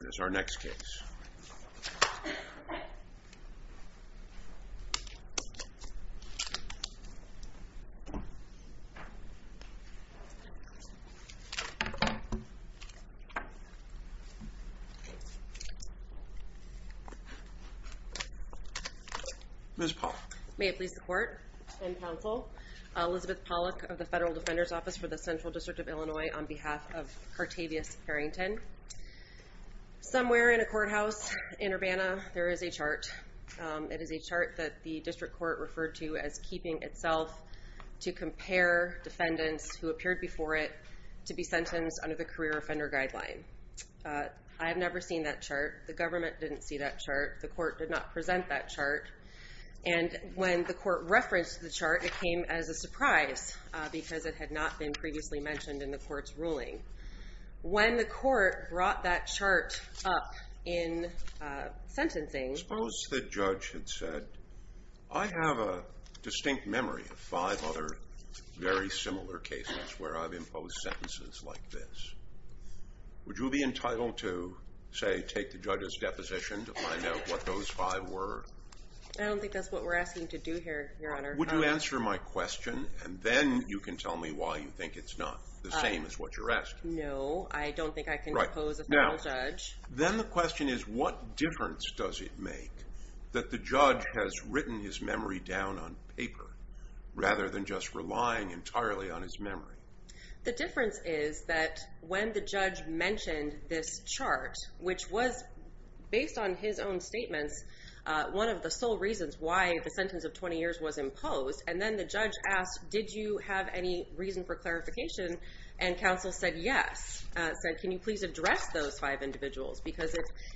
Here's our next case. Ms. Pollack. May it please the court and counsel, Elizabeth Pollack of the Federal Defender's Office for the Central District of Illinois on behalf of Somewhere in a courthouse in Urbana, there is a chart. It is a chart that the district court referred to as keeping itself to compare defendants who appeared before it to be sentenced under the career offender guideline. I've never seen that chart. The government didn't see that chart. The court did not present that chart. And when the court referenced the chart, it came as a surprise because it had not been previously mentioned in the court's ruling. When the court brought that chart up in sentencing Suppose the judge had said, I have a distinct memory of five other very similar cases where I've imposed sentences like this. Would you be entitled to, say, take the judge's deposition to find out what those five were? I don't think that's what we're asking you to do here, Your Honor. Would you answer my question and then you can tell me why you think it's not the same as what you're asking? No, I don't think I can impose a federal judge. Then the question is, what difference does it make that the judge has written his memory down on paper rather than just relying entirely on his memory? The difference is that when the judge mentioned this chart, which was based on his own statements one of the sole reasons why the sentence of 20 years was imposed and then the judge asked, did you have any reason for clarification? And counsel said, yes. Said, can you please address those five individuals? Because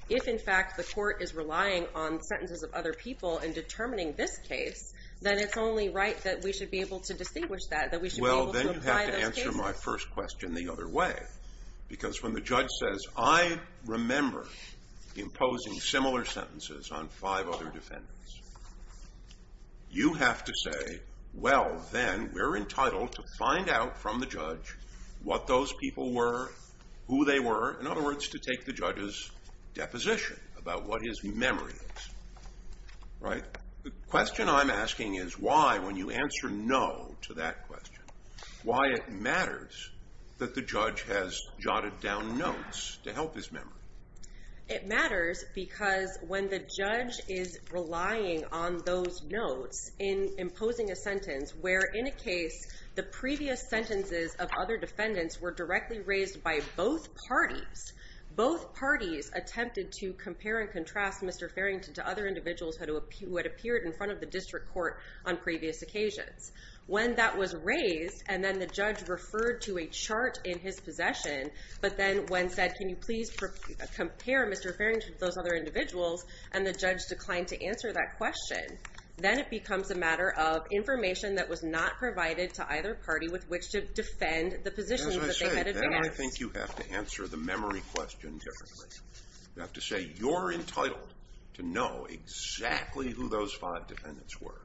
if in fact the court is relying on sentences of other people in determining this case then it's only right that we should be able to distinguish that, that we should be able to apply those cases. Well, then you have to answer my first question the other way. Because when the judge says, I remember imposing similar sentences on five other defendants, you have to say, well, then we're entitled to find out from the judge what those people were, who they were. In other words, to take the judge's deposition about what his memory is, right? The question I'm asking is why, when you answer no to that question, why it matters that the judge has jotted down notes to help his memory? It matters because when the judge is relying on those notes in imposing a sentence where in a case the previous sentences of other defendants were directly raised by both parties, both parties attempted to compare and contrast Mr. Farrington to other individuals who had appeared in front of the district court on previous occasions. When that was raised and then the judge referred to a chart in his possession, but then when said, can you please compare Mr. Farrington to those other individuals, and the judge declined to answer that question, then it becomes a matter of information that was not provided to either party with which to defend the positions that they had advanced. As I say, then I think you have to answer the memory question differently. You have to say you're entitled to know exactly who those five defendants were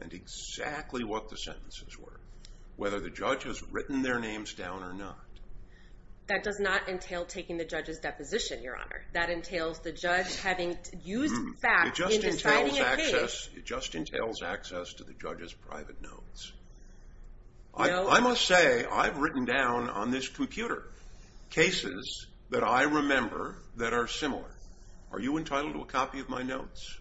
and exactly what the sentences were, whether the judge has written their names down or not. That does not entail taking the judge's deposition, Your Honor. That entails the judge having used facts in deciding a case. It just entails access to the judge's private notes. I must say I've written down on this computer cases that I remember that are similar. Are you entitled to a copy of my notes?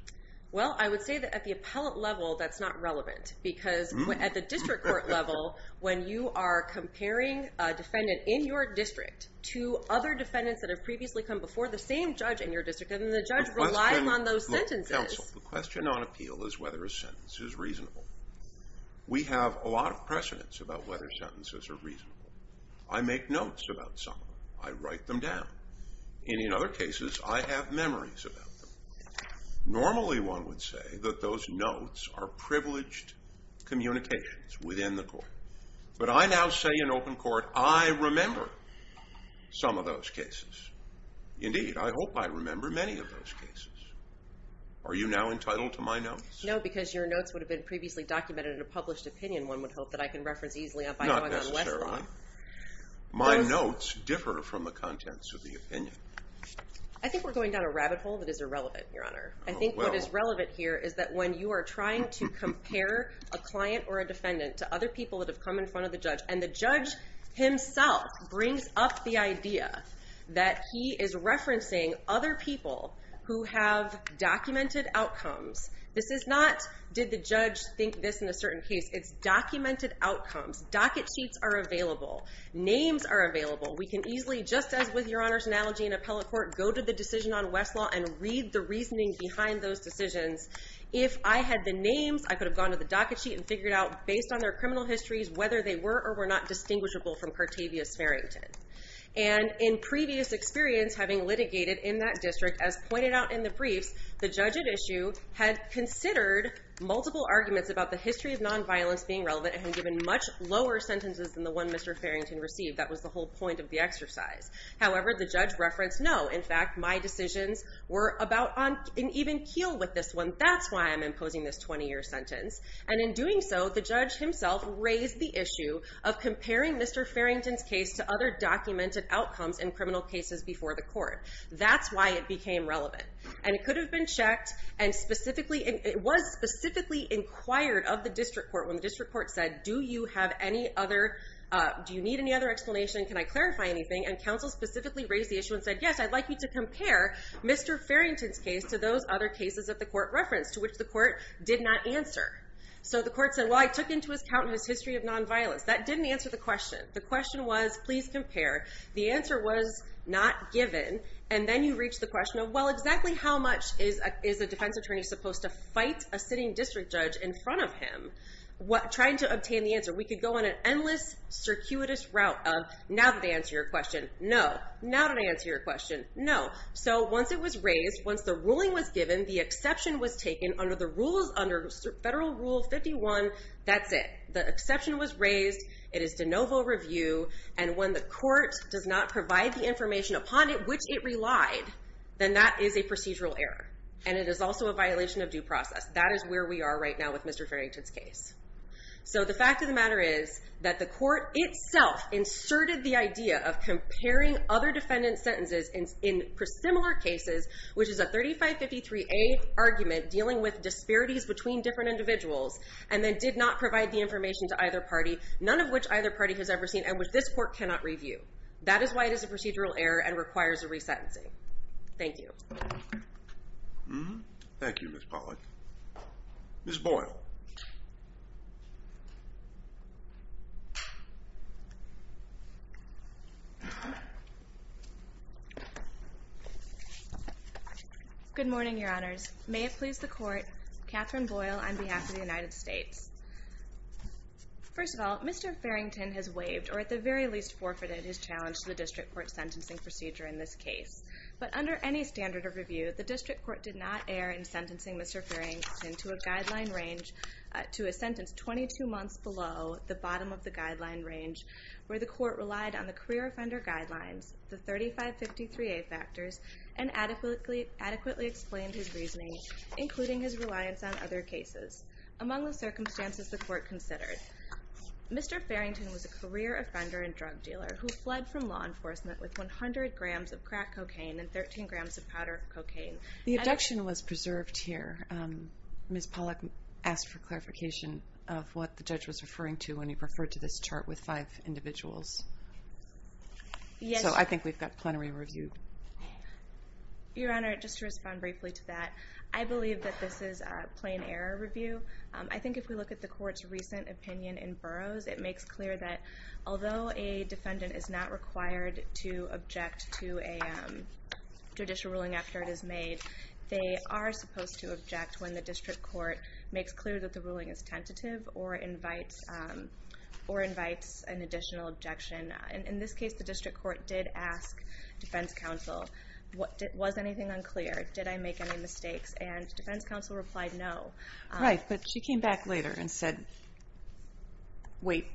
Well, I would say that at the appellate level that's not relevant, because at the district court level, when you are comparing a defendant in your district to other defendants that have previously come before the same judge in your district, then the judge relies on those sentences. Counsel, the question on appeal is whether a sentence is reasonable. We have a lot of precedence about whether sentences are reasonable. I make notes about some of them. I write them down. And in other cases, I have memories about them. Normally, one would say that those notes are privileged communications within the court. But I now say in open court I remember some of those cases. Indeed, I hope I remember many of those cases. Are you now entitled to my notes? No, because your notes would have been previously documented in a published opinion, one would hope, that I can reference easily by going on Westlaw. Not necessarily. My notes differ from the contents of the opinion. I think we're going down a rabbit hole that is irrelevant, Your Honor. I think what is relevant here is that when you are trying to compare a client or a defendant to other people that have come in front of the judge, and the judge himself brings up the idea that he is referencing other people who have documented outcomes. This is not did the judge think this in a certain case. It's documented outcomes. Docket sheets are available. Names are available. We can easily, just as with Your Honor's analogy in appellate court, go to the decision on Westlaw and read the reasoning behind those decisions. If I had the names, I could have gone to the docket sheet and figured out, based on their criminal histories, whether they were or were not distinguishable from Cartavius Farrington. And in previous experience, having litigated in that district, as pointed out in the briefs, the judge at issue had considered multiple arguments about the history of nonviolence being relevant and had given much lower sentences than the one Mr. Farrington received. That was the whole point of the exercise. However, the judge referenced, no. In fact, my decisions were about on an even keel with this one. That's why I'm imposing this 20-year sentence. And in doing so, the judge himself raised the issue of comparing Mr. Farrington's case to other documented outcomes in criminal cases before the court. That's why it became relevant. And it could have been checked, and it was specifically inquired of the district court when the district court said, do you need any other explanation? Can I clarify anything? And counsel specifically raised the issue and said, yes, I'd like you to compare Mr. Farrington's case to those other cases that the court referenced, to which the court did not answer. So the court said, well, I took into account his history of nonviolence. That didn't answer the question. The question was, please compare. The answer was not given. And then you reach the question of, well, exactly how much is a defense attorney supposed to fight a sitting district judge in front of him trying to obtain the answer? We could go on an endless, circuitous route of, now that I answer your question, no. Now that I answer your question, no. So once it was raised, once the ruling was given, the exception was taken under Federal Rule 51, that's it. The exception was raised. It is de novo review. And when the court does not provide the information upon it which it relied, then that is a procedural error. And it is also a violation of due process. That is where we are right now with Mr. Farrington's case. So the fact of the matter is that the court itself inserted the idea of comparing other defendants' sentences in similar cases, which is a 3553A argument dealing with disparities between different individuals, and then did not provide the information to either party, none of which either party has ever seen and which this court cannot review. That is why it is a procedural error and requires a resentencing. Thank you. Thank you, Ms. Pollack. Ms. Boyle. Good morning, Your Honors. May it please the Court, Kathryn Boyle on behalf of the United States. First of all, Mr. Farrington has waived or at the very least forfeited his challenge to the district court sentencing procedure in this case. But under any standard of review, the district court did not err in sentencing Mr. Farrington to a guideline range to a sentence 22 months below the bottom of the guideline range where the court relied on the career offender guidelines, the 3553A factors, and adequately explained his reasoning, including his reliance on other cases. Among the circumstances the court considered, Mr. Farrington was a career offender and drug dealer who fled from law enforcement with 100 grams of crack cocaine and 13 grams of powder cocaine. The abduction was preserved here. Ms. Pollack asked for clarification of what the judge was referring to when he referred to this chart with five individuals. So I think we've got plenary review. Your Honor, just to respond briefly to that, I believe that this is a plain error review. I think if we look at the court's recent opinion in Burroughs, it makes clear that although a defendant is not required to object to a judicial ruling after it is made, they are supposed to object when the district court makes clear that the ruling is tentative or invites an additional objection. In this case, the district court did ask defense counsel, was anything unclear, did I make any mistakes? And defense counsel replied no. Right, but she came back later and said, wait,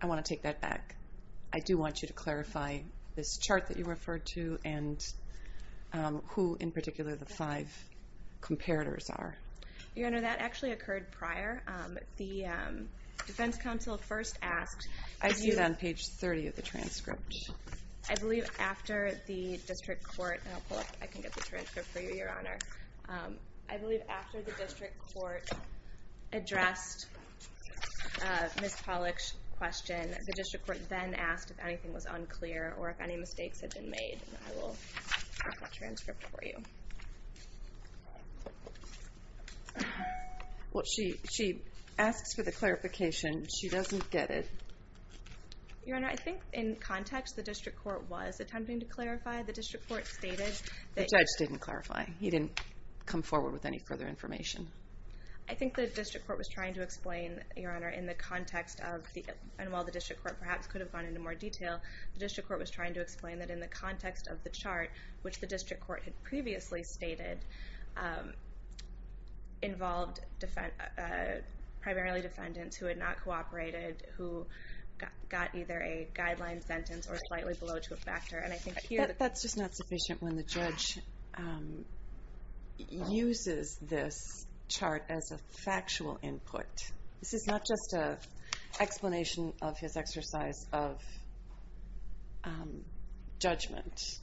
I want to take that back. I do want you to clarify this chart that you referred to and who in particular the five comparators are. Your Honor, that actually occurred prior. The defense counsel first asked, I see it on page 30 of the transcript. I believe after the district court, and I'll pull up, I can get the transcript for you, Your Honor. I believe after the district court addressed Ms. Pollack's question, the district court then asked if anything was unclear or if any mistakes had been made. I will get that transcript for you. Well, she asks for the clarification. She doesn't get it. Your Honor, I think in context, the district court was attempting to clarify. The district court stated that the judge didn't clarify. He didn't come forward with any further information. I think the district court was trying to explain, Your Honor, in the context of the, and while the district court perhaps could have gone into more detail, the district court was trying to explain that in the context of the chart, which the district court had previously stated, involved primarily defendants who had not cooperated, who got either a guideline sentence or slightly below to a factor. That's just not sufficient when the judge uses this chart as a factual input. This is not just an explanation of his exercise of judgment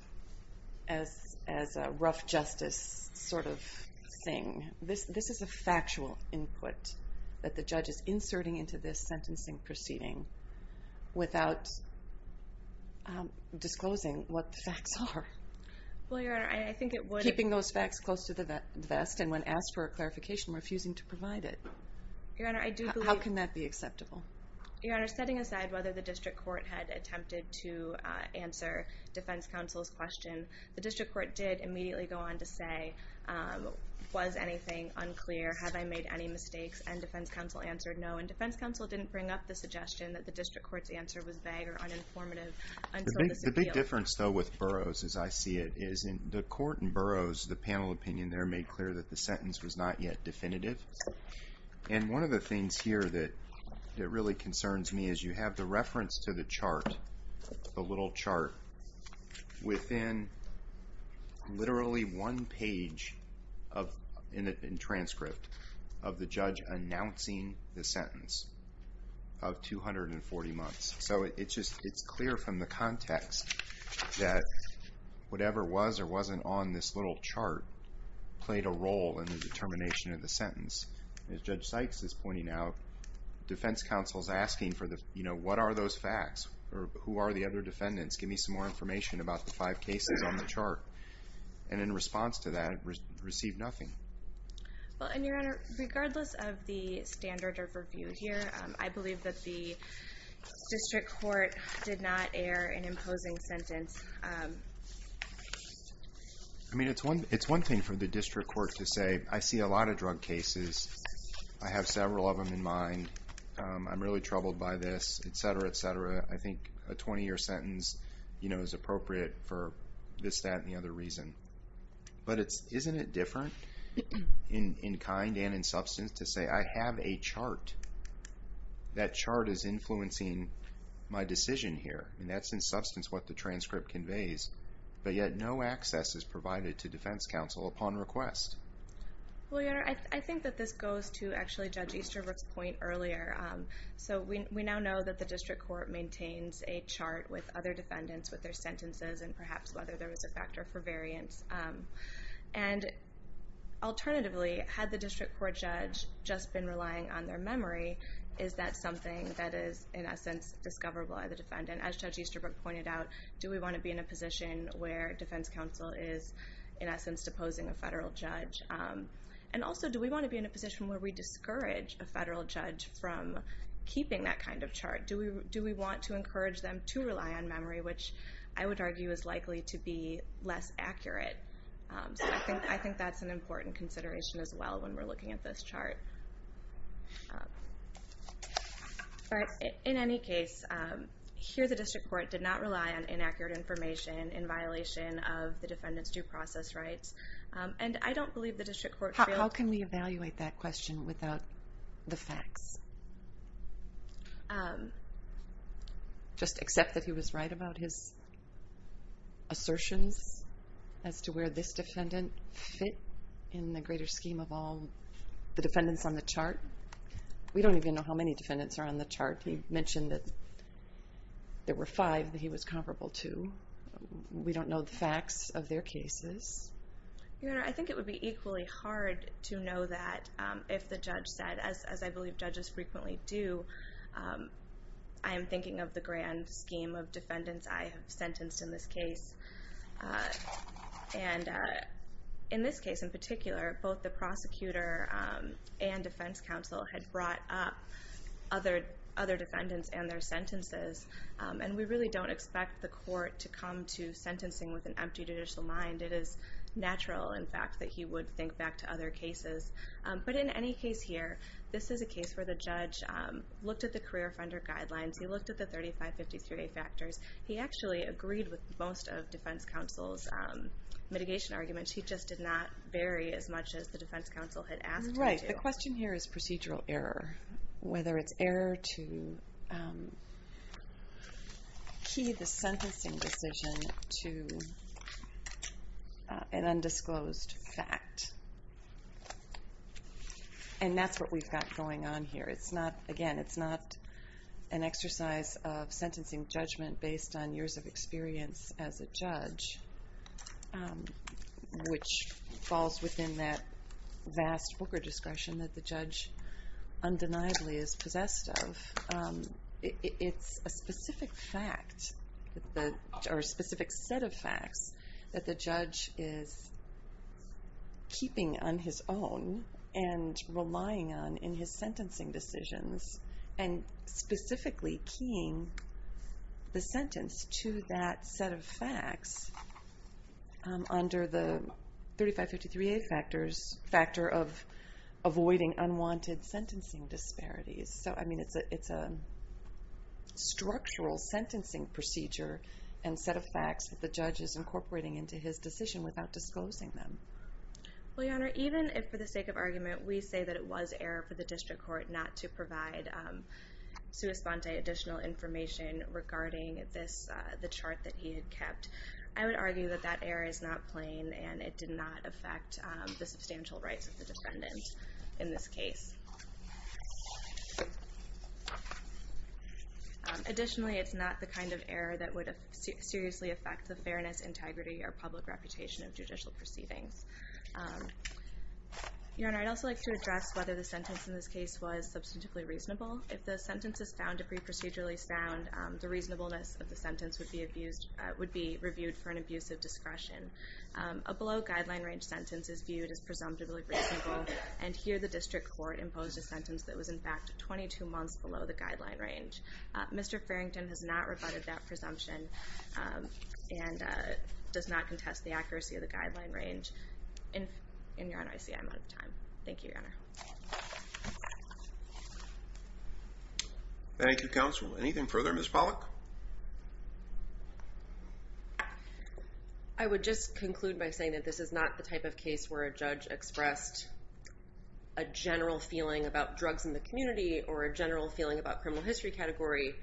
as a rough justice sort of thing. This is a factual input that the judge is inserting into this sentencing proceeding without disclosing what the facts are. Well, Your Honor, I think it would... Keeping those facts close to the vest, and when asked for a clarification, refusing to provide it. Your Honor, I do believe... How can that be acceptable? Your Honor, setting aside whether the district court had attempted to answer defense counsel's question, the district court did immediately go on to say, was anything unclear? Have I made any mistakes? And defense counsel answered no. And defense counsel didn't bring up the suggestion that the district court's answer was vague or uninformative until this appeal. The big difference, though, with Burroughs, as I see it, is the court in Burroughs, the panel opinion there, made clear that the sentence was not yet definitive. And one of the things here that really concerns me is you have the reference to the chart, the little chart, within literally one page in the transcript of the judge announcing the sentence of 240 months. So it's clear from the context that whatever was or wasn't on this little chart played a role in the determination of the sentence. As Judge Sykes is pointing out, defense counsel's asking for the... You know, what are those facts? Who are the other defendants? Give me some more information about the five cases on the chart. And in response to that, received nothing. Well, and, Your Honor, regardless of the standard of review here, I believe that the district court did not air an imposing sentence. I mean, it's one thing for the district court to say, I see a lot of drug cases. I have several of them in mind. I'm really troubled by this, et cetera, et cetera. I think a 20-year sentence is appropriate for this, that, and the other reason. But isn't it different in kind and in substance to say, I have a chart. That chart is influencing my decision here. And that's in substance what the transcript conveys. But yet no access is provided to defense counsel upon request. Well, Your Honor, I think that this goes to actually Judge Easterbrook's point earlier. So we now know that the district court maintains a chart with other defendants with their sentences and perhaps whether there was a factor for variance. And alternatively, had the district court judge just been relying on their memory, is that something that is, in essence, discoverable by the defendant? As Judge Easterbrook pointed out, do we want to be in a position where defense counsel is, in essence, deposing a federal judge? And also, do we want to be in a position where we discourage a federal judge from keeping that kind of chart? Do we want to encourage them to rely on memory, which I would argue is likely to be less accurate? So I think that's an important consideration as well when we're looking at this chart. In any case, here the district court did not rely on inaccurate information in violation of the defendant's due process rights. And I don't believe the district court feels... How can we evaluate that question without the facts? Just accept that he was right about his assertions as to where this defendant fit in the greater scheme of all the defendants on the chart? We don't even know how many defendants are on the chart. He mentioned that there were five that he was comparable to. We don't know the facts of their cases. Your Honor, I think it would be equally hard to know that if the judge said, as I believe judges frequently do, I am thinking of the grand scheme of defendants I have sentenced in this case. And in this case in particular, both the prosecutor and defense counsel had brought up other defendants and their sentences, and we really don't expect the court to come to sentencing with an empty judicial mind. It is natural, in fact, that he would think back to other cases. But in any case here, this is a case where the judge looked at the career offender guidelines. He looked at the 3553A factors. He actually agreed with most of defense counsel's mitigation arguments. He just did not vary as much as the defense counsel had asked him to. Right. The question here is procedural error, whether it's error to key the sentencing decision to an undisclosed fact. And that's what we've got going on here. Again, it's not an exercise of sentencing judgment based on years of experience as a judge, which falls within that vast booker discretion that the judge undeniably is possessed of. It's a specific set of facts that the judge is keeping on his own and relying on in his sentencing decisions and specifically keying the sentence to that set of facts under the 3553A factor of avoiding unwanted sentencing disparities. So, I mean, it's a structural sentencing procedure and set of facts that the judge is incorporating into his decision without disclosing them. Well, Your Honor, even if for the sake of argument we say that it was error for the district court not to provide sui sponte additional information regarding the chart that he had kept, I would argue that that error is not plain and it did not affect the substantial rights of the defendant in this case. Additionally, it's not the kind of error that would seriously affect the fairness, integrity, or public reputation of judicial proceedings. Your Honor, I'd also like to address whether the sentence in this case was substantively reasonable. If the sentence is found to be procedurally sound, the reasonableness of the sentence would be abused, would be reviewed for an abuse of discretion. A below guideline range sentence is viewed as presumptively reasonable and here the district court imposed a sentence that was in fact 22 months below the guideline range. Mr. Farrington has not rebutted that presumption and does not contest the accuracy of the guideline range. And, Your Honor, I see I'm out of time. Thank you, Your Honor. Thank you, counsel. Anything further, Ms. Pollack? I would just conclude by saying that this is not the type of case where a judge expressed a general feeling about drugs in the community or a general feeling about criminal history category.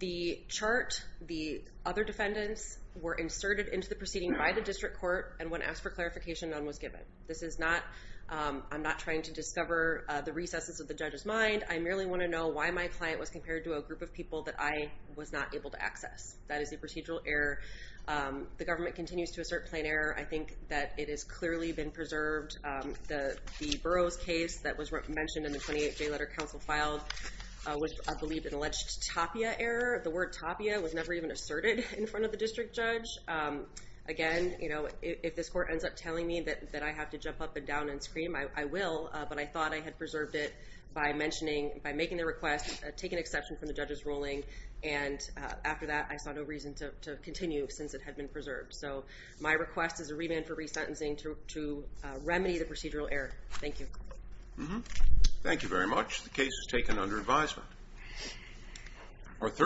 The chart, the other defendants, were inserted into the proceeding by the district court and when asked for clarification, none was given. This is not, I'm not trying to discover the recesses of the judge's mind. I merely want to know why my client was compared to a group of people that I was not able to access. That is a procedural error. The government continues to assert plain error. I think that it has clearly been preserved. The Burroughs case that was mentioned in the 28th J Letter counsel filed was, I believe, an alleged tapia error. The word tapia was never even asserted in front of the district judge. Again, if this court ends up telling me that I have to jump up and down and scream, I will, but I thought I had preserved it by making the request, taking exception from the judge's ruling, and after that I saw no reason to continue since it had been preserved. So my request is a remand for resentencing to remedy the procedural error. Thank you. Thank you very much. The case is taken under advisement.